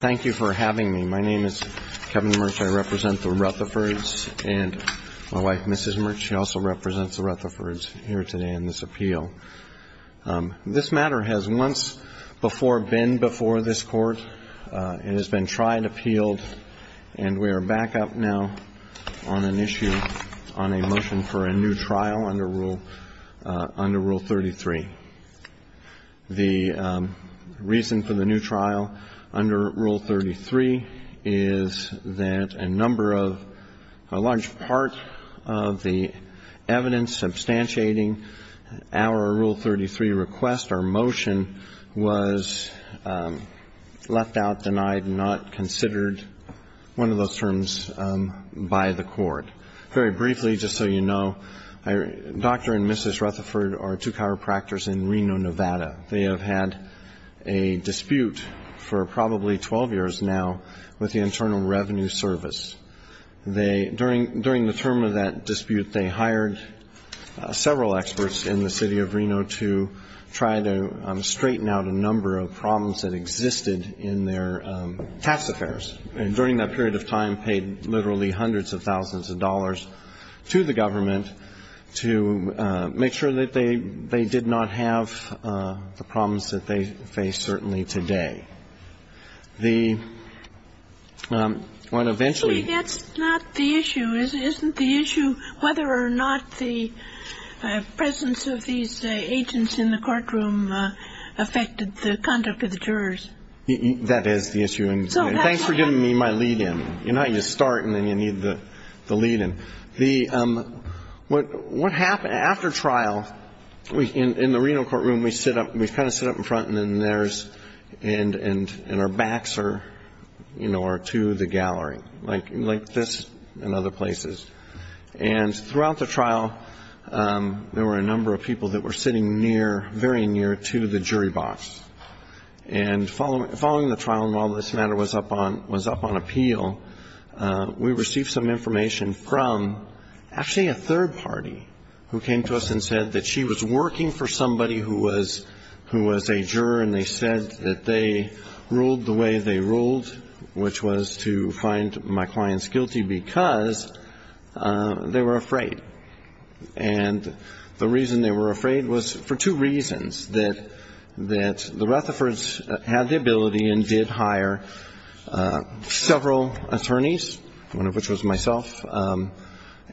Thank you for having me. My name is Kevin Merch. I represent the Rutherfords and my wife, Mrs. Merch, she also represents the Rutherfords here today in this appeal. This matter has once before been before this court and has been tried, appealed, and we are back up now on an issue on a motion for a new trial under Rule 33. The reason for the new trial under Rule 33 is that a number of, a large part of the evidence substantiating our Rule 33 request or motion was left out, denied, not considered, one of those terms, by the court. Very briefly, just so you know, Dr. and Mrs. Rutherford are two chiropractors in Reno, Nevada. They have had a dispute for probably 12 years now with the Internal Revenue Service. They, during the term of that dispute, they hired several experts in the city of Reno to try to straighten out a number of problems that existed in their tax affairs. And during that period of time, paid literally hundreds of thousands of dollars to the government to make sure that they did not have the problems that they face certainly today. The one eventually – Actually, that's not the issue. Isn't the issue whether or not the presence of these agents in the courtroom affected the conduct of the jurors? That is the issue. And thanks for giving me my lead in. You know, you start and then you need the lead in. The – what happened after trial, in the Reno courtroom, we sit up – we kind of sit up in front and then there's – and our backs are, you know, are to the gallery, like this and other places. And throughout the trial, there were a number of people that were sitting near, very near to the jury box. And following the trial and while this matter was up on appeal, we received some information from actually a third party who came to us and said that she was working for somebody who was a juror and they said that they ruled the way they ruled, which was to find my clients guilty because they were afraid. And the reason they were afraid was for two reasons, that the Rutherfords had the ability and did hire several attorneys, one of which was myself,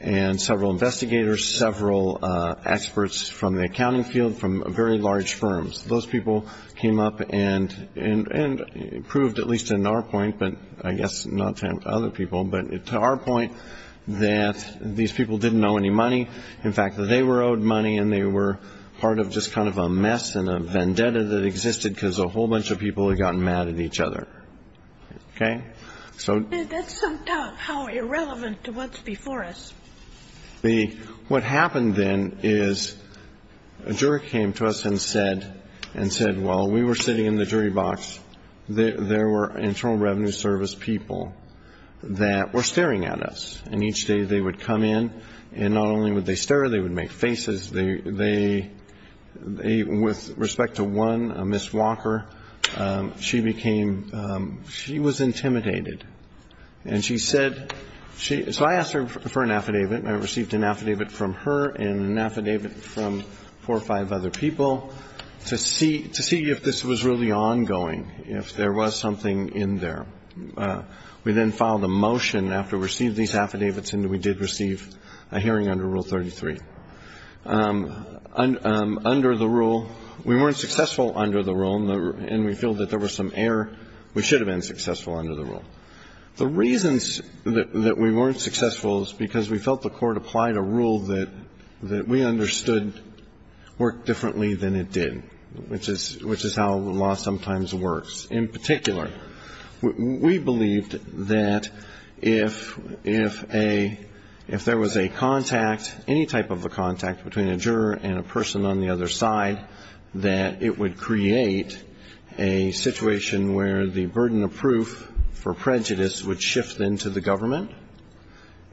and several investigators, several experts from the accounting field from very large firms. Those people came up and proved, at least to our point, but I guess not to other people, but to our point, that these people didn't owe any money. In fact, they were owed money and they were part of just kind of a mess and a vendetta that existed because a whole bunch of people had gotten mad at each other. Okay? So – That's somehow irrelevant to what's before us. What happened then is a juror came to us and said, well, we were sitting in the jury box. There were Internal Revenue Service people that were staring at us. And each day they would come in and not only would they stare, they would make faces. They – with respect to one, Ms. Walker, she became – she was intimidated. And she said – so I asked her for an affidavit. I received an affidavit from her and an affidavit from four or five other people to see if this was really ongoing, if there was something in there. We then filed a motion after we received these affidavits, and we did receive a hearing under Rule 33. Under the rule – we weren't successful under the rule, and we feel that there was some error. We should have been successful under the rule. The reasons that we weren't successful is because we felt the court applied a rule that we understood worked differently than it did, which is how law sometimes works. In particular, we believed that if a – if there was a contact, any type of a contact between a juror and a person on the other side, that it would create a situation where the burden of proof for prejudice would shift into the government,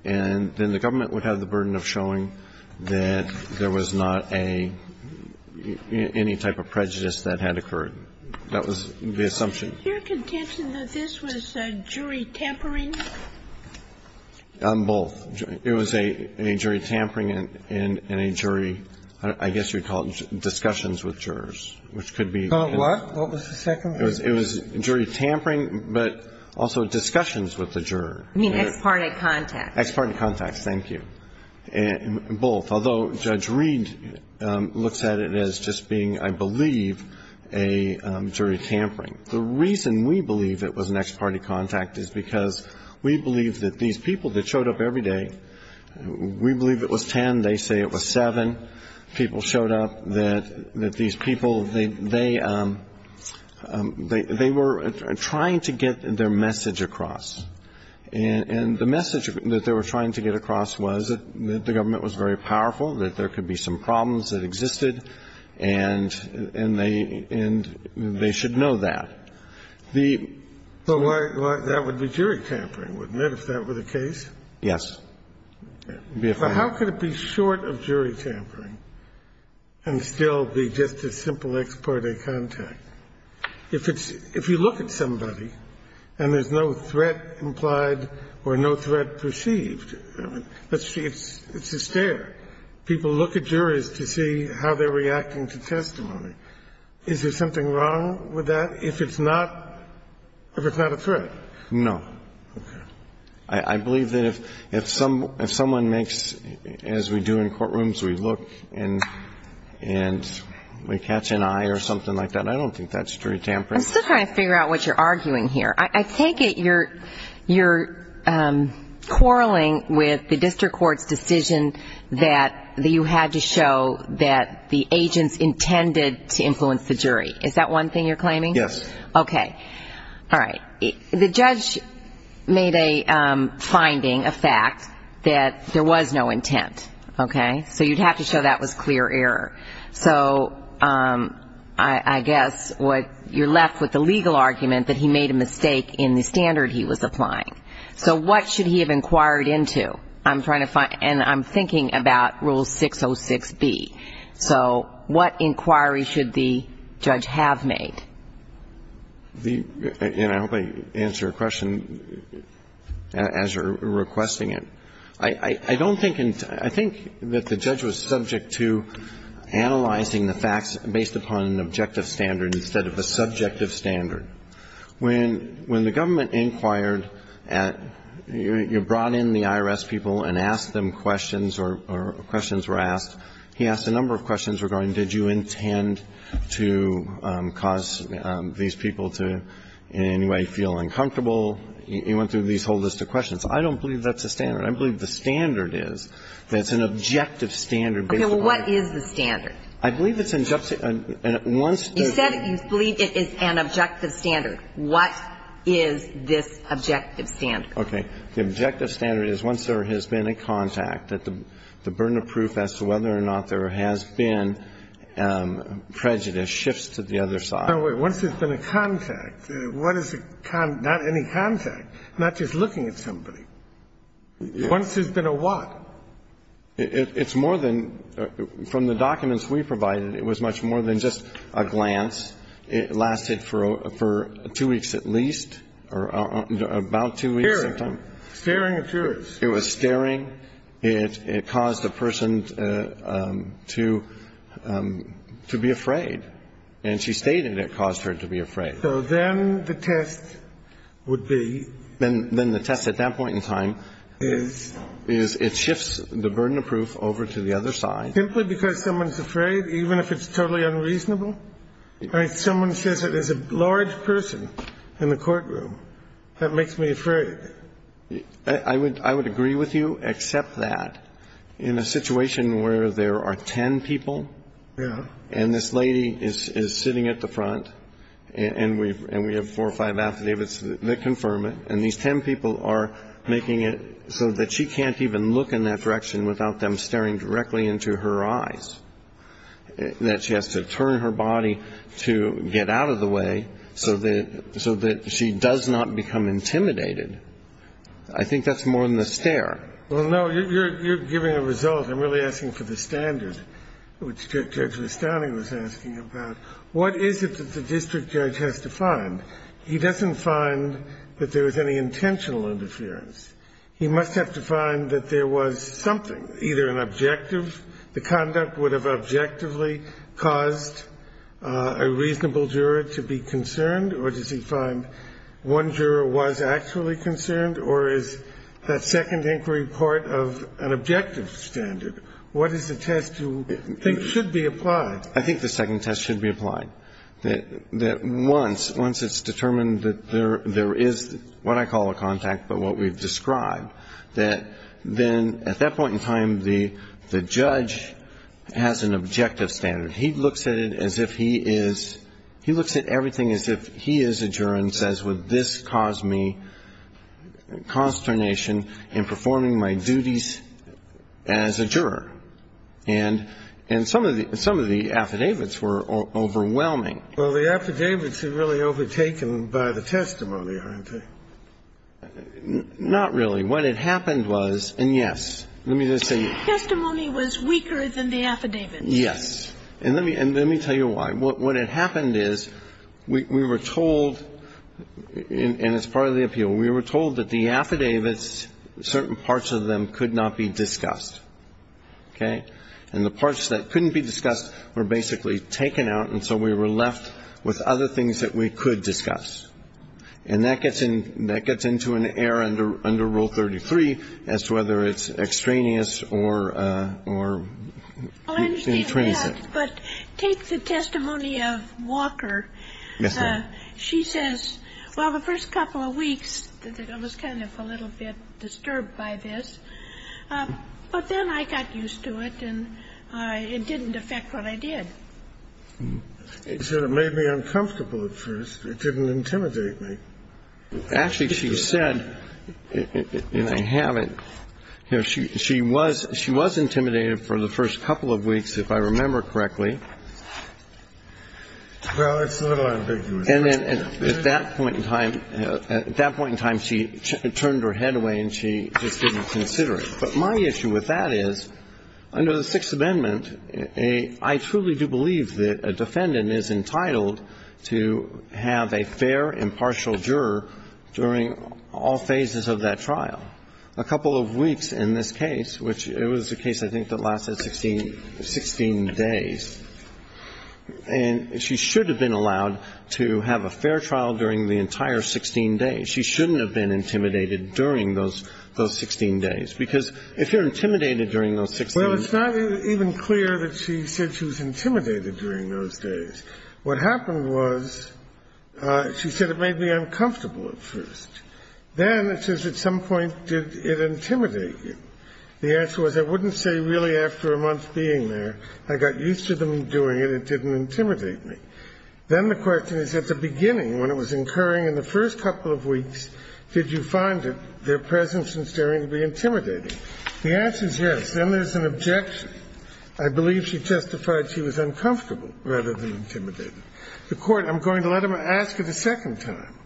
and then the government would have the burden of showing that there was not a – any type of prejudice that had occurred. That was the assumption. Your contention that this was jury tampering? Both. It was a jury tampering and a jury – I guess you would call it discussions with jurors, which could be – What? What was the second? It was jury tampering, but also discussions with the juror. You mean ex parte contacts. Ex parte contacts. Thank you. Both. Although Judge Reed looks at it as just being, I believe, a jury tampering. The reason we believe it was an ex parte contact is because we believe that these people that showed up every day, we believe it was ten, they say it was seven people showed up, that these people, they were trying to get their message across. And the message that they were trying to get across was that the government was very powerful, that there could be some problems that existed, and they should know that. The – Well, that would be jury tampering, wouldn't it, if that were the case? Yes. But how could it be short of jury tampering and still be just a simple ex parte contact? If it's – if you look at somebody and there's no threat implied or no threat perceived, let's see, it's a stare. People look at juries to see how they're reacting to testimony. Is there something wrong with that if it's not – if it's not a threat? No. Okay. I believe that if someone makes, as we do in courtrooms, we look and we catch an eye or something like that, I don't think that's jury tampering. I'm still trying to figure out what you're arguing here. I take it you're quarreling with the district court's decision that you had to show that the agents intended to influence the jury. Is that one thing you're claiming? Yes. Okay. All right. The judge made a finding, a fact, that there was no intent. Okay? So you'd have to show that was clear error. So I guess what – you're left with the legal argument that he made a mistake in the standard he was applying. So what should he have inquired into? I'm trying to find – and I'm thinking about Rule 606B. So what inquiry should the judge have made? And I hope I answered your question as you're requesting it. I don't think – I think that the judge was subject to analyzing the facts based upon an objective standard instead of a subjective standard. When the government inquired, you brought in the IRS people and asked them questions or questions were asked. He asked a number of questions regarding did you intend to cause these people to in any way feel uncomfortable. He went through these whole list of questions. I don't believe that's a standard. I believe the standard is that it's an objective standard based upon – Okay. Well, what is the standard? I believe it's an – once – You said you believe it is an objective standard. What is this objective standard? Okay. The objective standard is once there has been a contact, that the burden of proof as to whether or not there has been prejudice shifts to the other side. No, wait. Once there's been a contact, what is a – not any contact, not just looking at somebody. Once there's been a what? It's more than – from the documents we provided, it was much more than just a glance. It lasted for two weeks at least, or about two weeks at a time. Staring. Staring occurs. It was staring. It caused a person to be afraid. And she stated it caused her to be afraid. So then the test would be – Then the test at that point in time is – Is it shifts the burden of proof over to the other side. Simply because someone's afraid, even if it's totally unreasonable. If someone says that there's a large person in the courtroom, that makes me afraid. I would agree with you except that in a situation where there are ten people. Yeah. And this lady is sitting at the front. And we have four or five athletes that confirm it. And these ten people are making it so that she can't even look in that direction without them staring directly into her eyes. That she has to turn her body to get out of the way so that she does not become intimidated. I think that's more than a stare. Well, no, you're giving a result. I'm really asking for the standard, which Judge Lestane was asking about. What is it that the district judge has to find? He doesn't find that there was any intentional interference. He must have defined that there was something, either an objective. The conduct would have objectively caused a reasonable juror to be concerned. Or does he find one juror was actually concerned? Or is that second inquiry part of an objective standard? What is the test you think should be applied? I think the second test should be applied. That once it's determined that there is what I call a contact, but what we've described, that then at that point in time the judge has an objective standard. He looks at it as if he is, he looks at everything as if he is a juror and says, would this cause me consternation in performing my duties as a juror? And some of the affidavits were overwhelming. Well, the affidavits are really overtaken by the testimony, aren't they? Not really. What had happened was, and yes, let me just say. The testimony was weaker than the affidavits. Yes. And let me tell you why. What had happened is we were told, and it's part of the appeal, we were told that the affidavits, certain parts of them could not be discussed. Okay? And the parts that couldn't be discussed were basically taken out, and so we were left with other things that we could discuss. And that gets into an error under Rule 33 as to whether it's extraneous or. Well, and take that, but take the testimony of Walker. Yes, ma'am. She says, well, the first couple of weeks, I was kind of a little bit disturbed by this, but then I got used to it, and it didn't affect what I did. It sort of made me uncomfortable at first. It didn't intimidate me. Actually, she said, and I haven't, you know, she was, she was intimidated for the first couple of weeks, if I remember correctly. Well, it's a little ambiguous. And then at that point in time, at that point in time, she turned her head away and she just didn't consider it. But my issue with that is, under the Sixth Amendment, I truly do believe that a defendant is entitled to have a fair impartial juror during all phases of that trial. A couple of weeks in this case, which it was a case, I think, that lasted 16 days, and she should have been allowed to have a fair trial during the entire 16 days. She shouldn't have been intimidated during those 16 days, because if you're intimidated during those 16 days. Well, it's not even clear that she said she was intimidated during those days. What happened was she said it made me uncomfortable at first. Then it says, at some point, did it intimidate you? The answer was, I wouldn't say really after a month being there. I got used to them doing it. It didn't intimidate me. Then the question is, at the beginning, when it was incurring in the first couple of weeks, did you find it, their presence and staring, to be intimidating? The answer is yes. Then there's an objection. I believe she testified she was uncomfortable rather than intimidated. The Court, I'm going to let them ask it a second time.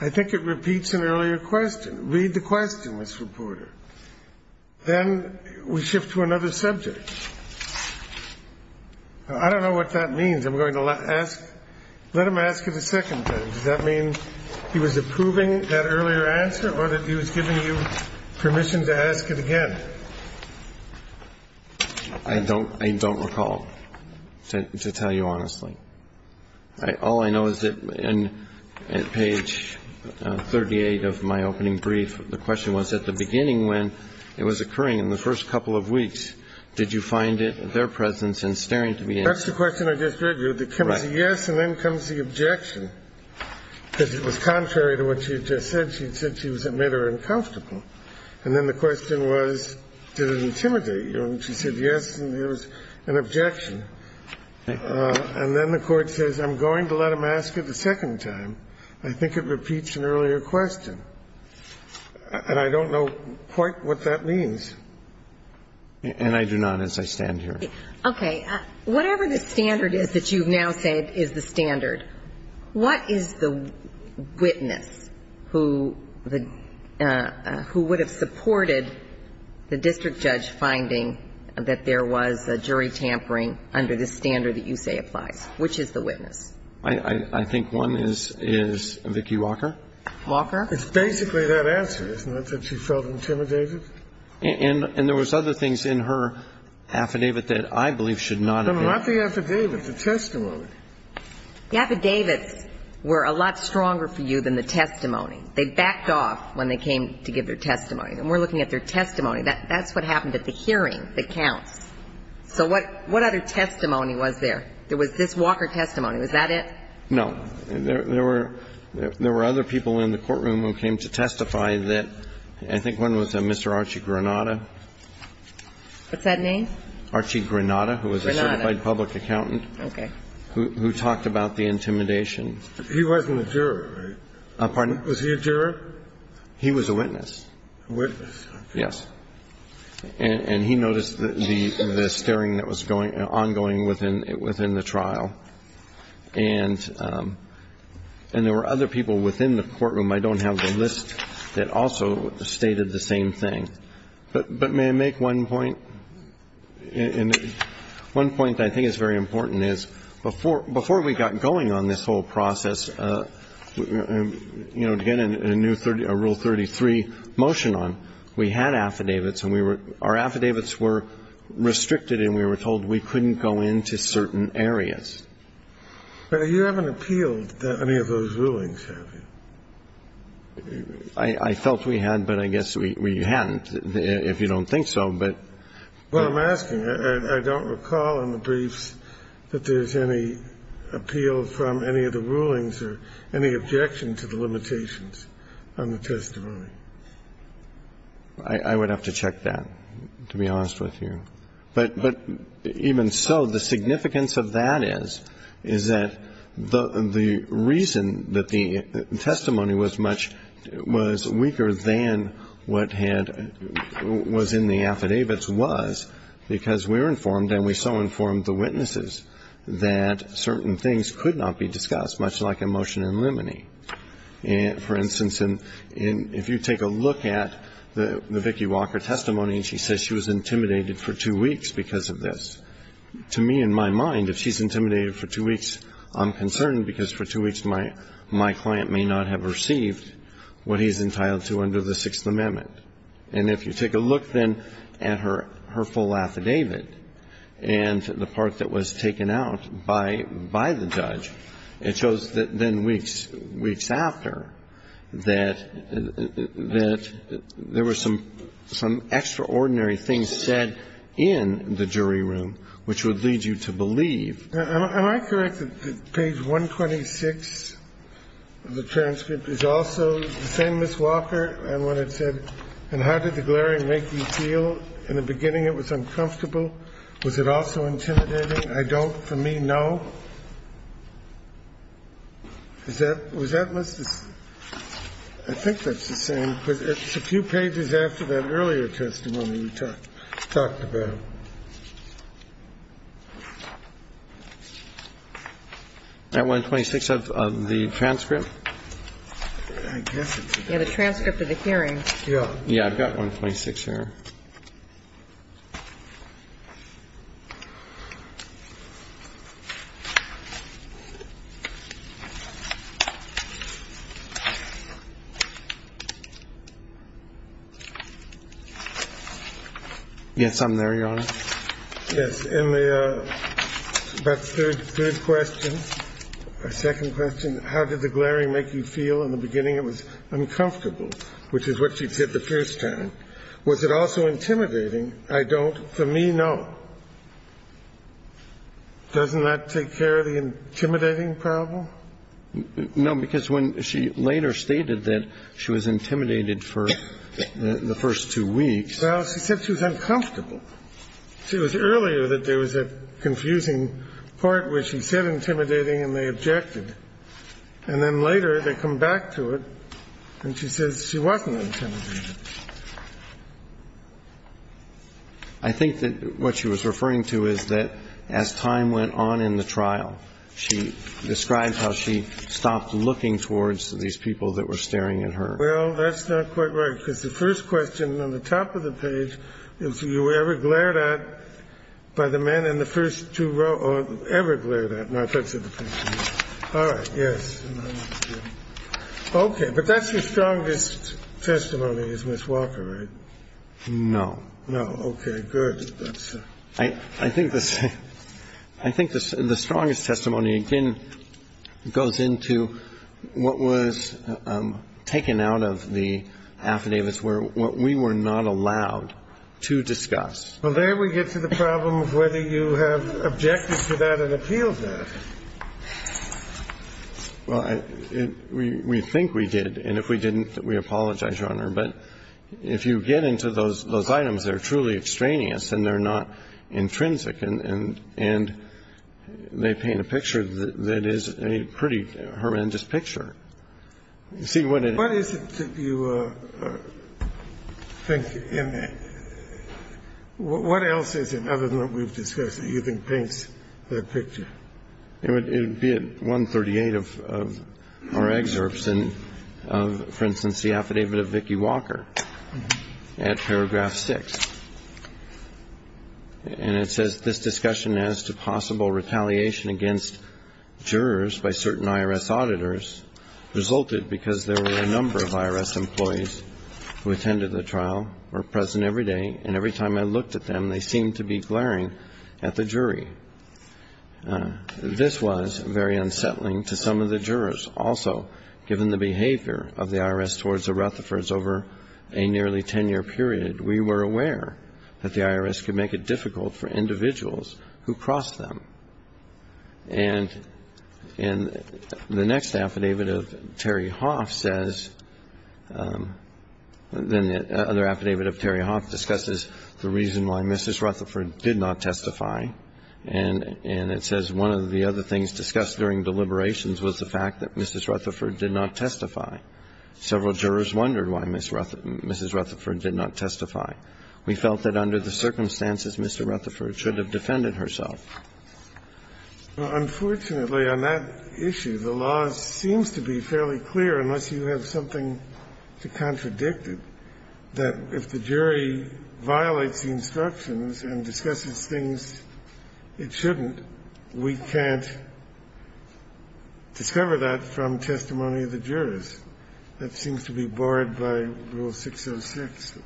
I think it repeats an earlier question. Read the question, Mr. Porter. Then we shift to another subject. I don't know what that means. I'm going to let him ask it a second time. Does that mean he was approving that earlier answer, or that he was giving you permission to ask it again? I don't recall, to tell you honestly. All I know is that on page 38 of my opening brief, the question was at the beginning when it was occurring in the first couple of weeks, did you find it, their presence and staring to be intimidating? That's the question I just read you. It comes to yes, and then comes the objection. Because it was contrary to what she had just said. She said she was, it made her uncomfortable. And then the question was, did it intimidate you? And she said yes, and there was an objection. And then the Court says, I'm going to let him ask it a second time. I think it repeats an earlier question. And I don't know quite what that means. And I do not, as I stand here. Okay. Whatever the standard is that you've now said is the standard, what is the witness who would have supported the district judge finding that there was jury tampering under this standard that you say applies? Which is the witness? I think one is Vicki Walker. Walker? It's basically that answer, isn't it, that she felt intimidated? And there was other things in her affidavit that I believe should not have been. No, not the affidavit, the testimony. The affidavits were a lot stronger for you than the testimony. They backed off when they came to give their testimony. And we're looking at their testimony. That's what happened at the hearing that counts. So what other testimony was there? There was this Walker testimony. Was that it? No. There were other people in the courtroom who came to testify that, I think one was Mr. Archie Granata. What's that name? Archie Granata, who was a certified public accountant. Okay. Who talked about the intimidation. He wasn't a jury, right? Pardon? Was he a jury? He was a witness. A witness. Yes. And he noticed the staring that was ongoing within the trial. And there were other people within the courtroom. I don't have the list that also stated the same thing. But may I make one point? One point I think is very important is before we got going on this whole process, you know, to get a new rule 33 motion on, we had affidavits. And our affidavits were restricted, and we were told we couldn't go into certain areas. But you haven't appealed any of those rulings, have you? I felt we had, but I guess we hadn't, if you don't think so. Well, I'm asking, I don't recall in the briefs that there's any appeal from any of the rulings or any objection to the limitations on the testimony. I would have to check that, to be honest with you. But even so, the significance of that is, is that the reason that the testimony was weaker than what was in the affidavits was because we were informed, and we so informed the witnesses, that certain things could not be discussed, much like a motion in limine. For instance, if you take a look at the Vicki Walker testimony, and she says she was intimidated for two weeks because of this. To me, in my mind, if she's intimidated for two weeks, I'm concerned because for two weeks my client may not have received what he's entitled to under the Sixth Amendment. And if you take a look, then, at her full affidavit and the part that was taken out by the judge, it shows that then weeks after that there were some extraordinary things said in the jury room which would lead you to believe. Am I correct that page 126 of the transcript is also the same as Walker? And when it said, and how did the glaring make you feel? In the beginning it was uncomfortable. Was it also intimidating? I don't, for me, know. Is that, was that, I think that's the same. It's a few pages after that earlier testimony we talked about. That 126 of the transcript? Yeah, the transcript of the hearing. Yeah. Yeah, I've got 126 here. Yes, I'm there. Yes, and the third question, second question, how did the glaring make you feel? In the beginning it was uncomfortable, which is what she said the first time. Was it also intimidating? I don't, for me, know. Doesn't that take care of the intimidating problem? No, because when she later stated that she was intimidated for the first two weeks. Well, she said she was uncomfortable. It was earlier that there was a confusing part where she said intimidating and they objected. And then later they come back to it and she says she wasn't intimidated. I think that what she was referring to is that as time went on in the trial, she described how she stopped looking towards these people that were staring at her. Well, that's not quite right, because the first question on the top of the page is, were you ever glared at by the men in the first two rows, or ever glared at? All right, yes. Okay. But that's your strongest testimony, is Ms. Walker, right? No. No. Okay, good. I think the strongest testimony, again, goes into what was taken out of the affidavits where we were not allowed to discuss. Well, there we get to the problem of whether you have objected to that and appealed that. Well, we think we did, and if we didn't, we apologize, Your Honor. But if you get into those items, they're truly extraneous and they're not intrinsic. And they paint a picture that is a pretty horrendous picture. You see what it is. What is it that you think in that? What else is it, other than what we've discussed, that you think paints the picture? It would be at 138 of our excerpts. And it says, for instance, the affidavit of Vicki Walker at paragraph 6. And it says, this discussion as to possible retaliation against jurors by certain IRS auditors resulted because there were a number of IRS employees who attended the trial, were present every day, and every time I looked at them, they seemed to be glaring at the jury. This was very unsettling to some of the jurors. Also, given the behavior of the IRS towards the Rutherfords over a nearly ten-year period, we were aware that the IRS could make it difficult for individuals who crossed them. And the next affidavit of Terry Hoff says, then the other affidavit of Terry Hoff discusses the reason why Mrs. Rutherford did not testify, and it says one of the other things discussed during deliberations was the fact that Mrs. Rutherford did not testify. Several jurors wondered why Mrs. Rutherford did not testify. We felt that under the circumstances, Mr. Rutherford should have defended herself. Unfortunately, on that issue, the law seems to be fairly clear, unless you have something to contradict it, that if the jury violates the instructions and discusses things it shouldn't, we can't discover that from testimony of the jurors. That seems to be borrowed by Rule 606.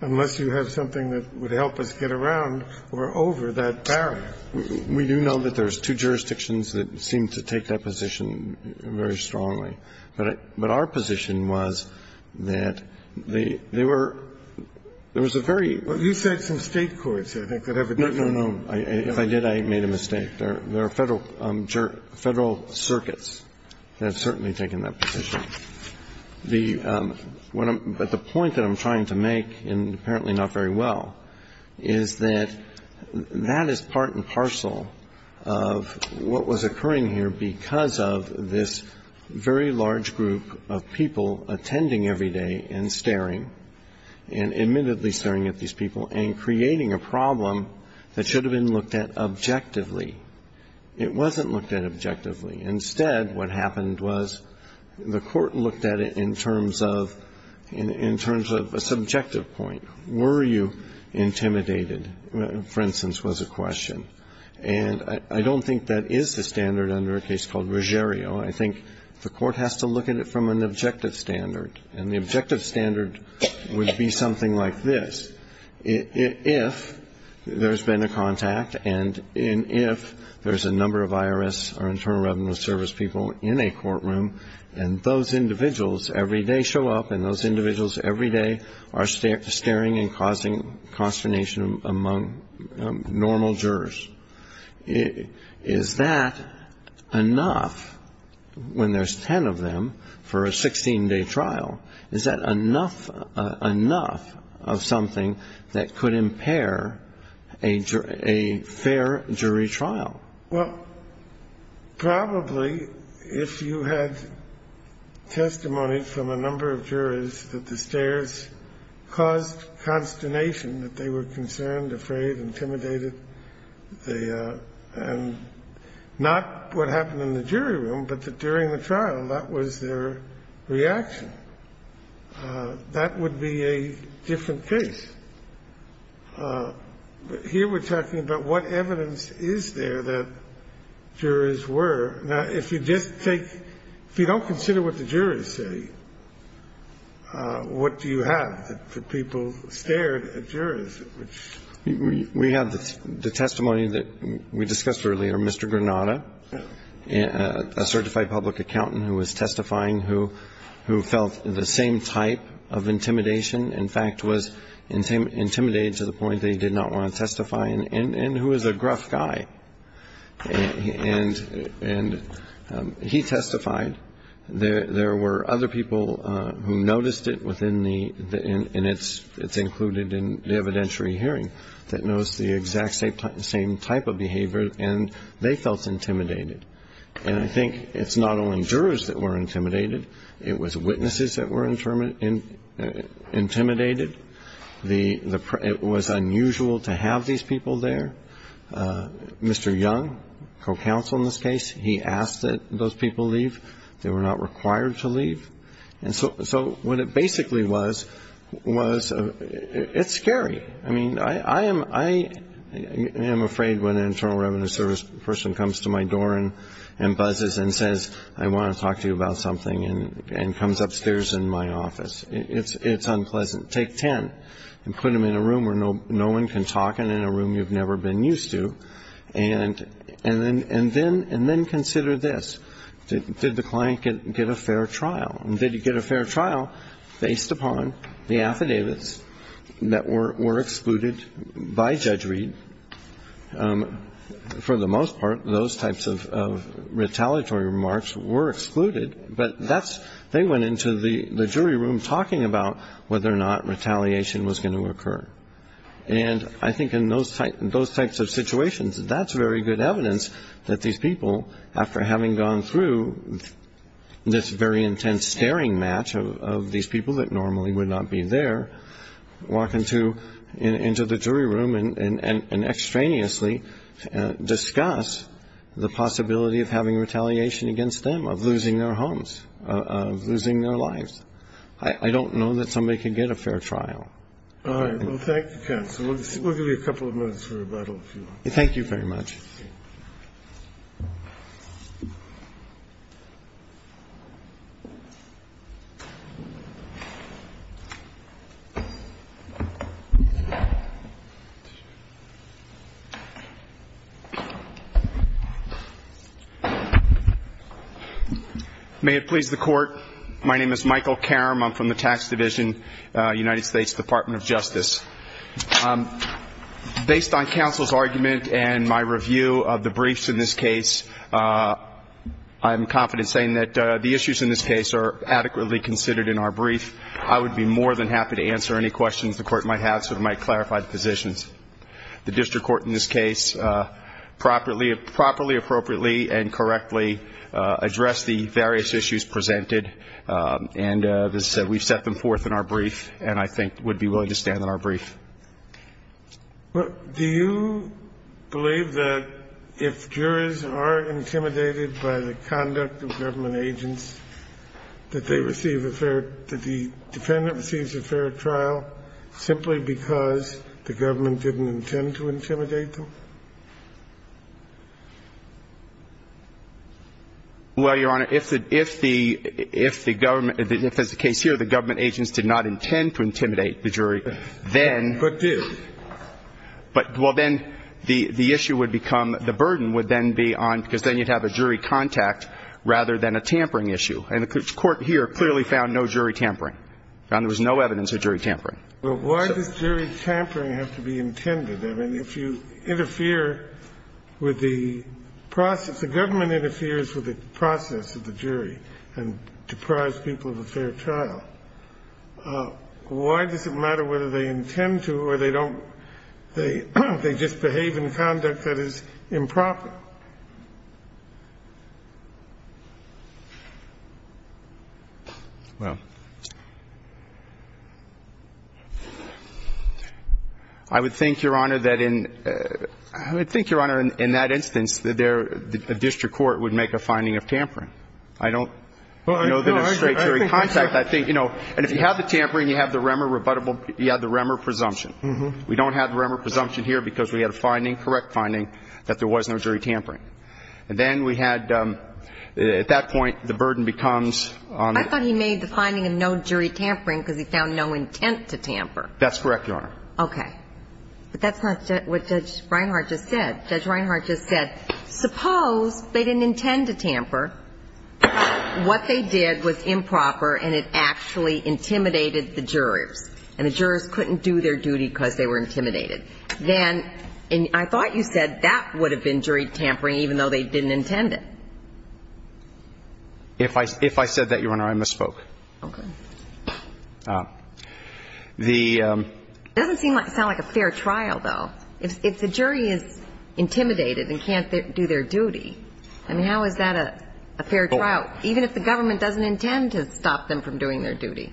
Unless you have something that would help us get around or over that barrier. We do know that there's two jurisdictions that seem to take that position very strongly. But our position was that they were – there was a very – But you said some State courts, I think, that have a different view. No, no, no. If I did, I made a mistake. There are Federal circuits that have certainly taken that position. But the point that I'm trying to make, and apparently not very well, is that that is part and parcel of what was occurring here because of this very large group of people attending every day and staring, and admittedly staring at these people and creating a problem that should have been looked at objectively. It wasn't looked at objectively. Instead, what happened was the Court looked at it in terms of – in terms of a subjective point. Were you intimidated, for instance, was a question. And I don't think that is the standard under a case called Ruggiero. I think the Court has to look at it from an objective standard. And the objective standard would be something like this. If there's been a contact and if there's a number of IRS or Internal Revenue Service people in a courtroom and those individuals every day show up and those individuals every day are staring and causing consternation among normal jurors, is that enough when there's ten of them for a 16-day trial? Is that enough of something that could impair a fair jury trial? Well, probably if you had testimony from a number of jurors that the stares caused consternation, that they were concerned, afraid, intimidated, they – and not what happened in the jury room, but that during the trial that was their reaction. That would be a different case. But here we're talking about what evidence is there that jurors were. Now, if you just take – if you don't consider what the jurors say, what do you have for people stared at jurors? We have the testimony that we discussed earlier, Mr. Granata, a certified public accountant who was testifying, who felt the same type of intimidation. In fact, was intimidated to the point that he did not want to testify and who is a gruff guy. And he testified. There were other people who noticed it within the – and it's included in the evidentiary hearing, that noticed the exact same type of behavior and they felt intimidated. And I think it's not only jurors that were intimidated. It was witnesses that were intimidated. The – it was unusual to have these people there. Mr. Young, co-counsel in this case, he asked that those people leave. They were not required to leave. And so what it basically was, was it's scary. I mean, I am afraid when an Internal Revenue Service person comes to my door and buzzes and says, I want to talk to you about something and comes upstairs in my office. It's unpleasant. Take ten and put them in a room where no one can talk and in a room you've never been used to. And then consider this. Did the client get a fair trial? And did he get a fair trial based upon the affidavits that were excluded by Judge Reed? For the most part, those types of retaliatory remarks were excluded, but that's – they went into the jury room talking about whether or not retaliation was going to occur. And I think in those types of situations, that's very good evidence that these people, after having gone through this very intense staring match of these people that normally would not be there, walk into the jury room and extraneously discuss the possibility of having retaliation against them, of losing their homes, of losing their lives. I don't know that somebody can get a fair trial. All right. Well, thank you, counsel. We'll give you a couple of minutes for rebuttal, if you want. Thank you very much. May it please the Court. My name is Michael Karam. I'm from the Tax Division, United States Department of Justice. Based on counsel's argument and my review of the briefs in this case, I'm confident saying that the issues in this case are adequately considered in our brief. I would be more than happy to answer any questions the Court might have so it might clarify the positions. The district court in this case properly, appropriately and correctly addressed the various issues presented, and we've set them forth in our brief and I think would be willing to stand on our brief. Do you believe that if jurors are intimidated by the conduct of government agents, that they receive a fair – that the defendant receives a fair trial simply because the government didn't intend to intimidate them? Well, Your Honor, if the – if the government – if, as the case here, the government agents did not intend to intimidate the jury, then – But did. But – well, then the issue would become – the burden would then be on – And the court here clearly found no jury tampering, found there was no evidence of jury tampering. Well, why does jury tampering have to be intended? I mean, if you interfere with the process – the government interferes with the process of the jury and deprives people of a fair trial, why does it matter whether they intend to or they don't – they just behave in conduct that is improper? Well, I would think, Your Honor, that in – I would think, Your Honor, in that instance, that there – the district court would make a finding of tampering. I don't know that a straight jury contact that thing – you know, and if you have the tampering, you have the remor – you have the remor presumption. We don't have the remor presumption here because we had a finding, correct finding, that there was no jury tampering. And then we had – at that point, the burden becomes on the – I thought he made the finding of no jury tampering because he found no intent to tamper. That's correct, Your Honor. Okay. But that's not what Judge Reinhart just said. Judge Reinhart just said, suppose they didn't intend to tamper, what they did was improper and it actually intimidated the jurors, and the jurors couldn't do their duty because they were intimidated. Then – and I thought you said that would have been jury tampering, even though they didn't intend it. If I – if I said that, Your Honor, I misspoke. Okay. The – It doesn't seem like – sound like a fair trial, though. If the jury is intimidated and can't do their duty, I mean, how is that a fair trial, even if the government doesn't intend to stop them from doing their duty?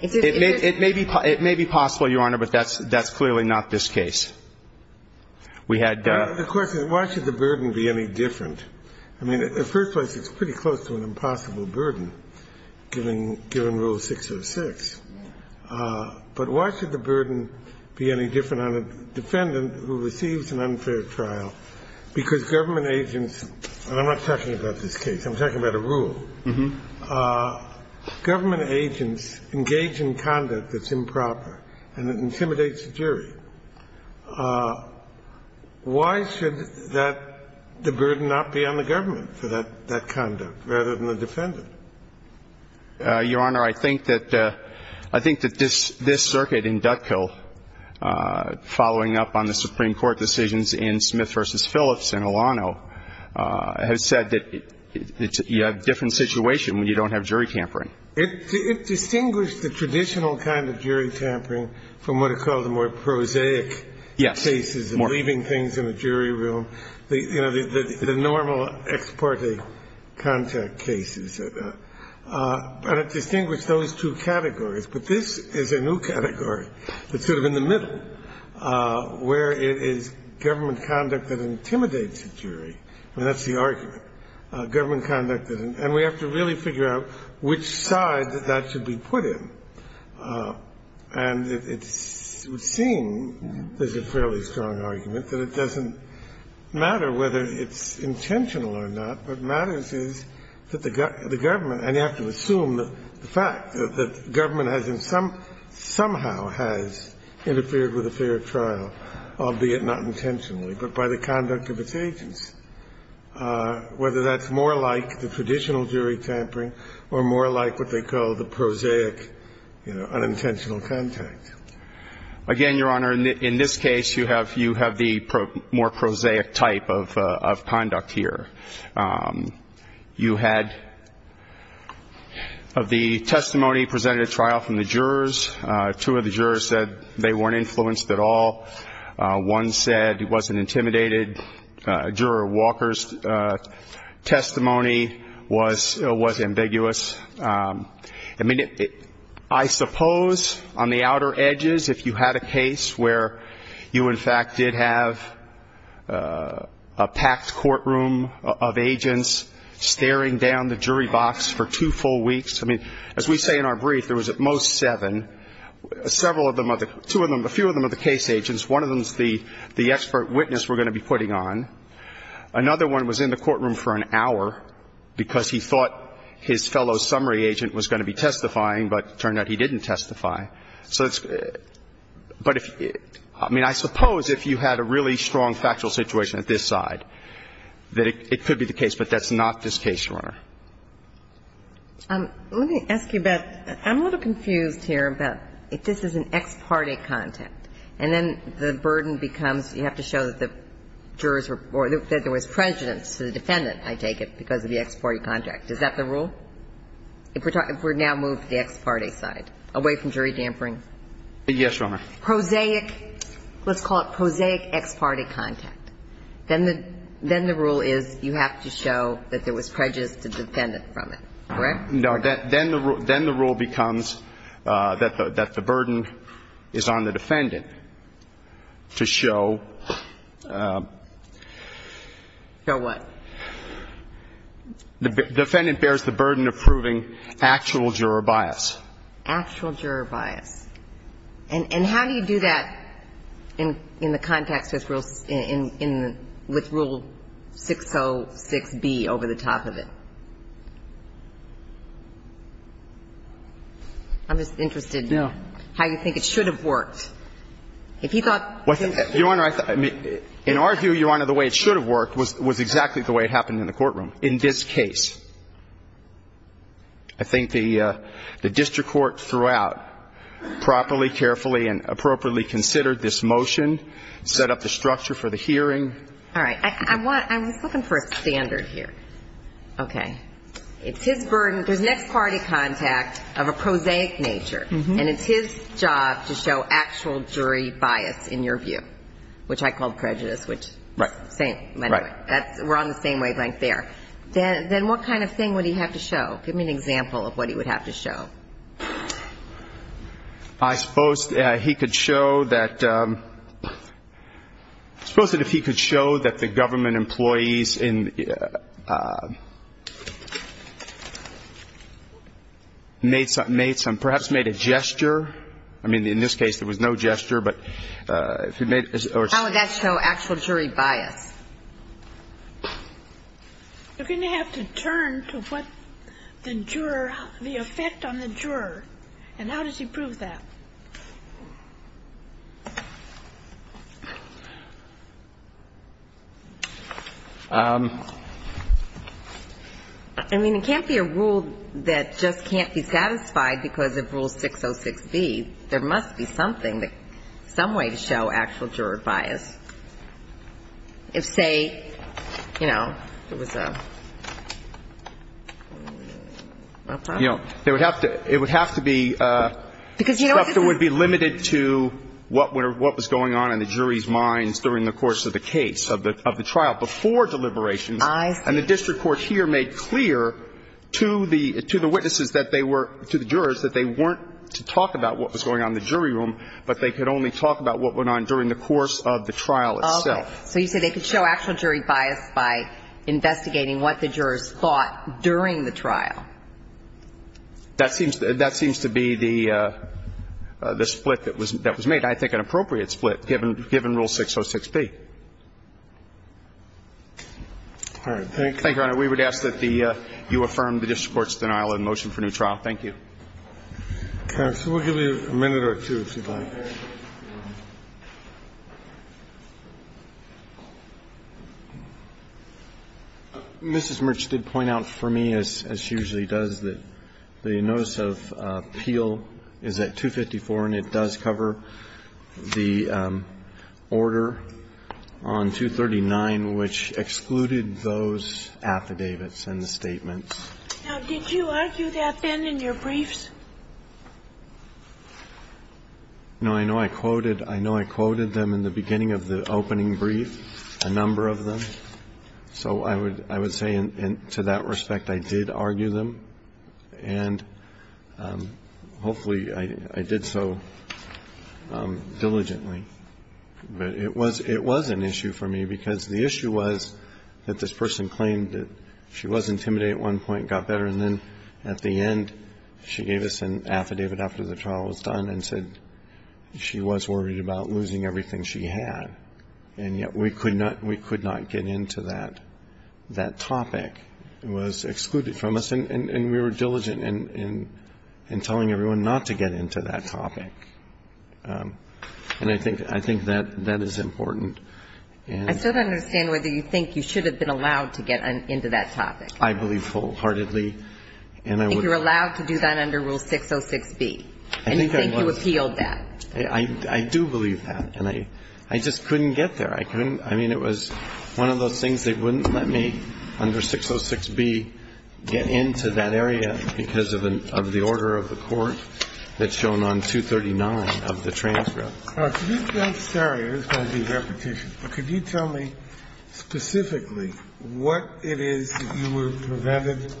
It may be – it may be possible, Your Honor, but that's clearly not this case. We had – The question is why should the burden be any different? I mean, in the first place, it's pretty close to an impossible burden, given Rule 606. But why should the burden be any different on a defendant who receives an unfair trial? Because government agents – and I'm not talking about this case. I'm talking about a rule. Government agents engage in conduct that's improper, and it intimidates the jury. Why should that – the burden not be on the government for that conduct, rather than the defendant? Your Honor, I think that – I think that this circuit in Dutkill, following up on the Supreme Court ruling, which is the case that Justice Kennedy versus Phillips in Alano has said that you have a different situation when you don't have jury tampering. It distinguished the traditional kind of jury tampering from what are called the more prosaic cases of leaving things in the jury room, you know, the normal ex parte contact cases. But it distinguished those two categories. But this is a new category that's sort of in the middle, where it is government conduct that intimidates the jury. I mean, that's the argument. Government conduct that – and we have to really figure out which side that that should be put in. And it's seen – there's a fairly strong argument that it doesn't matter whether it's intentional or not. What matters is that the government – and you have to assume the fact that the government has in some – somehow has interfered with a fair trial, albeit not intentionally, but by the conduct of its agents, whether that's more like the traditional jury tampering or more like what they call the prosaic, you know, unintentional contact. Again, Your Honor, in this case, you have – you have the more prosaic type of conduct here. You had – of the testimony presented at trial from the jurors, two of the jurors said they weren't influenced at all. One said he wasn't intimidated. Juror Walker's testimony was ambiguous. I mean, I suppose on the outer edges, if you had a case where you in fact did have a packed courtroom of agents staring down the jury box for two full weeks – I mean, as we say in our brief, there was at most seven. Several of them – two of them – a few of them are the case agents. One of them is the expert witness we're going to be putting on. Another one was in the courtroom for an hour because he thought his fellow summary agent was going to be testifying, but it turned out he didn't testify. So it's – but if – I mean, I suppose if you had a really strong factual situation at this side, that it could be the case, but that's not this case, Your Honor. Let me ask you about – I'm a little confused here about if this is an ex parte contact, and then the burden becomes you have to show that the jurors were – that there was prejudice to the defendant, I take it, because of the ex parte contact. Is that the rule? If we're talking – if we now move to the ex parte side, away from jury dampering? Yes, Your Honor. Prosaic – let's call it prosaic ex parte contact. Then the – then the rule is you have to show that there was prejudice to the defendant from it, correct? No. Then the rule becomes that the burden is on the defendant to show – Show what? The defendant bears the burden of proving actual juror bias. Actual juror bias. And how do you do that in the context with Rule 606b over the top of it? I'm just interested in how you think it should have worked. If you thought – Your Honor, I think – in our view, Your Honor, the way it should have worked was exactly the way it happened in the courtroom. In this case, I think the district court throughout properly, carefully, and appropriately considered this motion, set up the structure for the hearing. All right. I want – I was looking for a standard here. Okay. It's his burden – there's an ex parte contact of a prosaic nature, and it's his job to show actual jury bias in your view, which I called prejudice, which is the same – we're on the same wavelength there. Then what kind of thing would he have to show? Give me an example of what he would have to show. I suppose he could show that – I suppose that if he could show that the government employees in – made some – perhaps made a gesture. I mean, in this case, there was no gesture, but if he made – How would that show actual jury bias? You're going to have to turn to what the juror – the effect on the juror. And how does he prove that? I mean, it can't be a rule that just can't be satisfied because of Rule 606b. There must be something that – some way to show actual juror bias. If, say, you know, it was a – You know, there would have to – it would have to be – Because you know what this is – The structure would be limited to what was going on in the jury's minds during the course of the case, of the trial, before deliberations. I see. So you say they could show actual jury bias by investigating what the jurors thought during the trial. That seems to be the split that was made. I think an appropriate split, given Rule 606b. All right. Thank you. Thank you, Your Honor. We would ask that the – you affirm the district court's denial and motion for new trial. Thank you. Counsel, we'll give you a minute or two, if you'd like. Mrs. Merch did point out for me, as she usually does, that the notice of appeal is at 254, and it does cover the order on 239, which excluded those affidavits and the statements. Now, did you argue that then in your briefs? No. I know I quoted them in the beginning of the opening brief, a number of them. So I would say, to that respect, I did argue them, and hopefully I did so diligently. But it was an issue for me, because the issue was that this person claimed that she was intimidated at one point, got better, and then at the end she gave us an affidavit after the trial was done and said she was worried about losing everything she had. And yet we could not get into that topic. It was excluded from us, and we were diligent in telling everyone not to get into that topic. And I think that is important. I still don't understand whether you think you should have been allowed to get into that topic. I believe wholeheartedly. I think you were allowed to do that under Rule 606B. I think I was. And you think you appealed that. I do believe that, and I just couldn't get there. I couldn't. I mean, it was one of those things they wouldn't let me, under 606B, get into that area because of the order of the court that's shown on 239 of the transcript. Could you tell me specifically what it is that you were prevented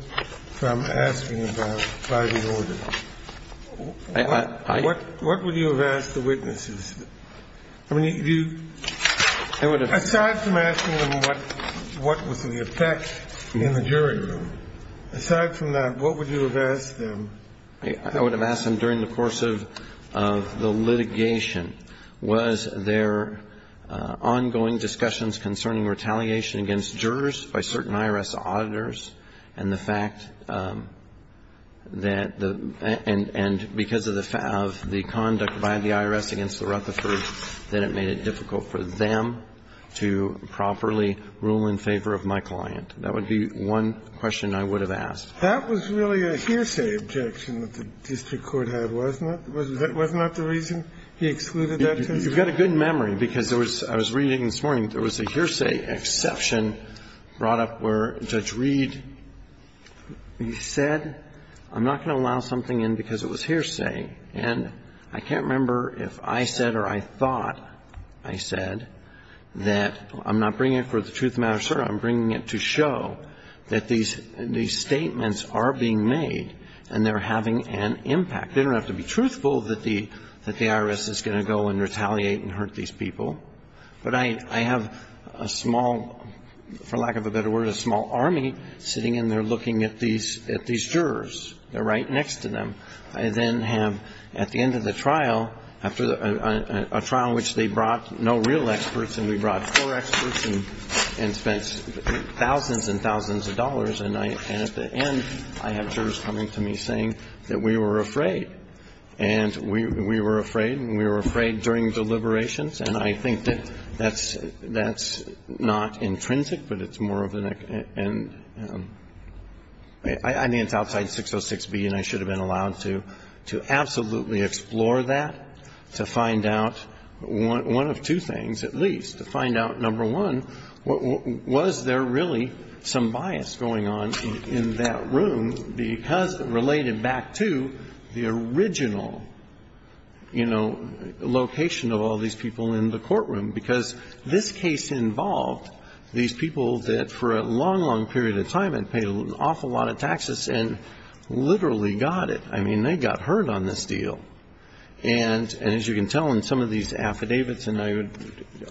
from asking about by the order? What would you have asked the witnesses? I mean, aside from asking them what was the effect in the jury room, aside from that, what would you have asked them? I would have asked them during the course of the litigation, was there ongoing discussions concerning retaliation against jurors by certain IRS auditors and the fact that the – and because of the conduct by the IRS against the Rutherford, that it made it difficult for them to properly rule in favor of my client. That would be one question I would have asked. That was really a hearsay objection that the district court had, wasn't it? Wasn't that the reason he excluded that case? You've got a good memory, because there was – I was reading this morning, there was a hearsay exception brought up where Judge Reed said, I'm not going to allow something in because it was hearsay. And I can't remember if I said or I thought I said that I'm not bringing it for the truth to show that these statements are being made and they're having an impact. They don't have to be truthful that the IRS is going to go and retaliate and hurt these people. But I have a small, for lack of a better word, a small army sitting in there looking at these jurors. They're right next to them. I then have, at the end of the trial, after a trial in which they brought no real experts and we brought four experts and spent thousands and thousands of dollars, and at the end I have jurors coming to me saying that we were afraid. And we were afraid and we were afraid during deliberations. And I think that that's not intrinsic, but it's more of an – I mean, it's outside 606B and I should have been allowed to absolutely explore that to find out one of two things at least. To find out, number one, was there really some bias going on in that room because it related back to the original, you know, location of all these people in the courtroom. Because this case involved these people that for a long, long period of time had paid an awful lot of taxes and literally got it. I mean, they got hurt on this deal. And as you can tell in some of these affidavits, and I would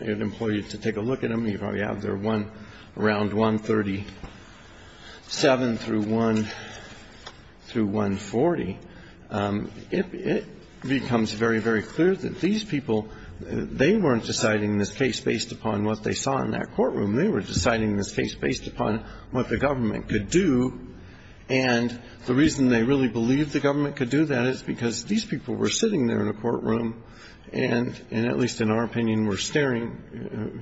implore you to take a look at them. You probably have there one around 137 through 140. It becomes very, very clear that these people, they weren't deciding this case based upon what they saw in that courtroom. They were deciding this case based upon what the government could do. And the reason they really believed the government could do that is because these people were sitting there in a courtroom and, at least in our opinion, were staring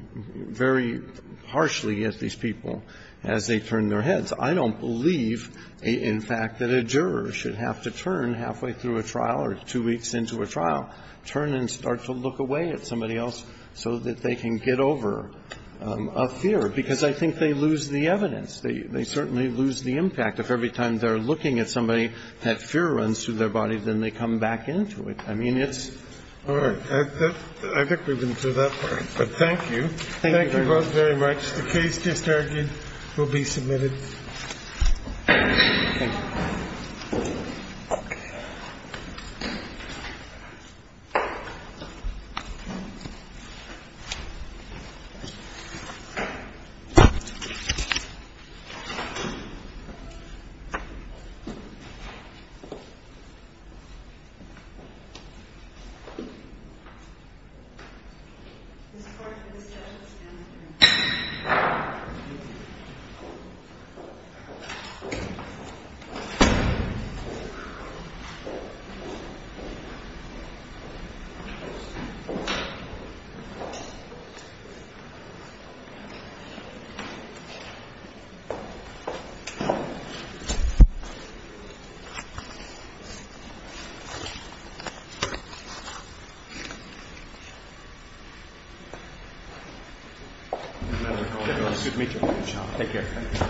very harshly at these people as they turned their heads. I don't believe, in fact, that a juror should have to turn halfway through a trial or two weeks into a trial, turn and start to look away at somebody else so that they can get over a fear. Because I think they lose the evidence. They certainly lose the impact. If every time they're looking at somebody that fear runs through their body, then they come back into it. I mean, it's ‑‑ All right. I think we've been through that part. But thank you. Thank you both very much. The case just argued will be submitted. Thank you. Thank you. Good to meet you. Take care. Thank you. Thank you.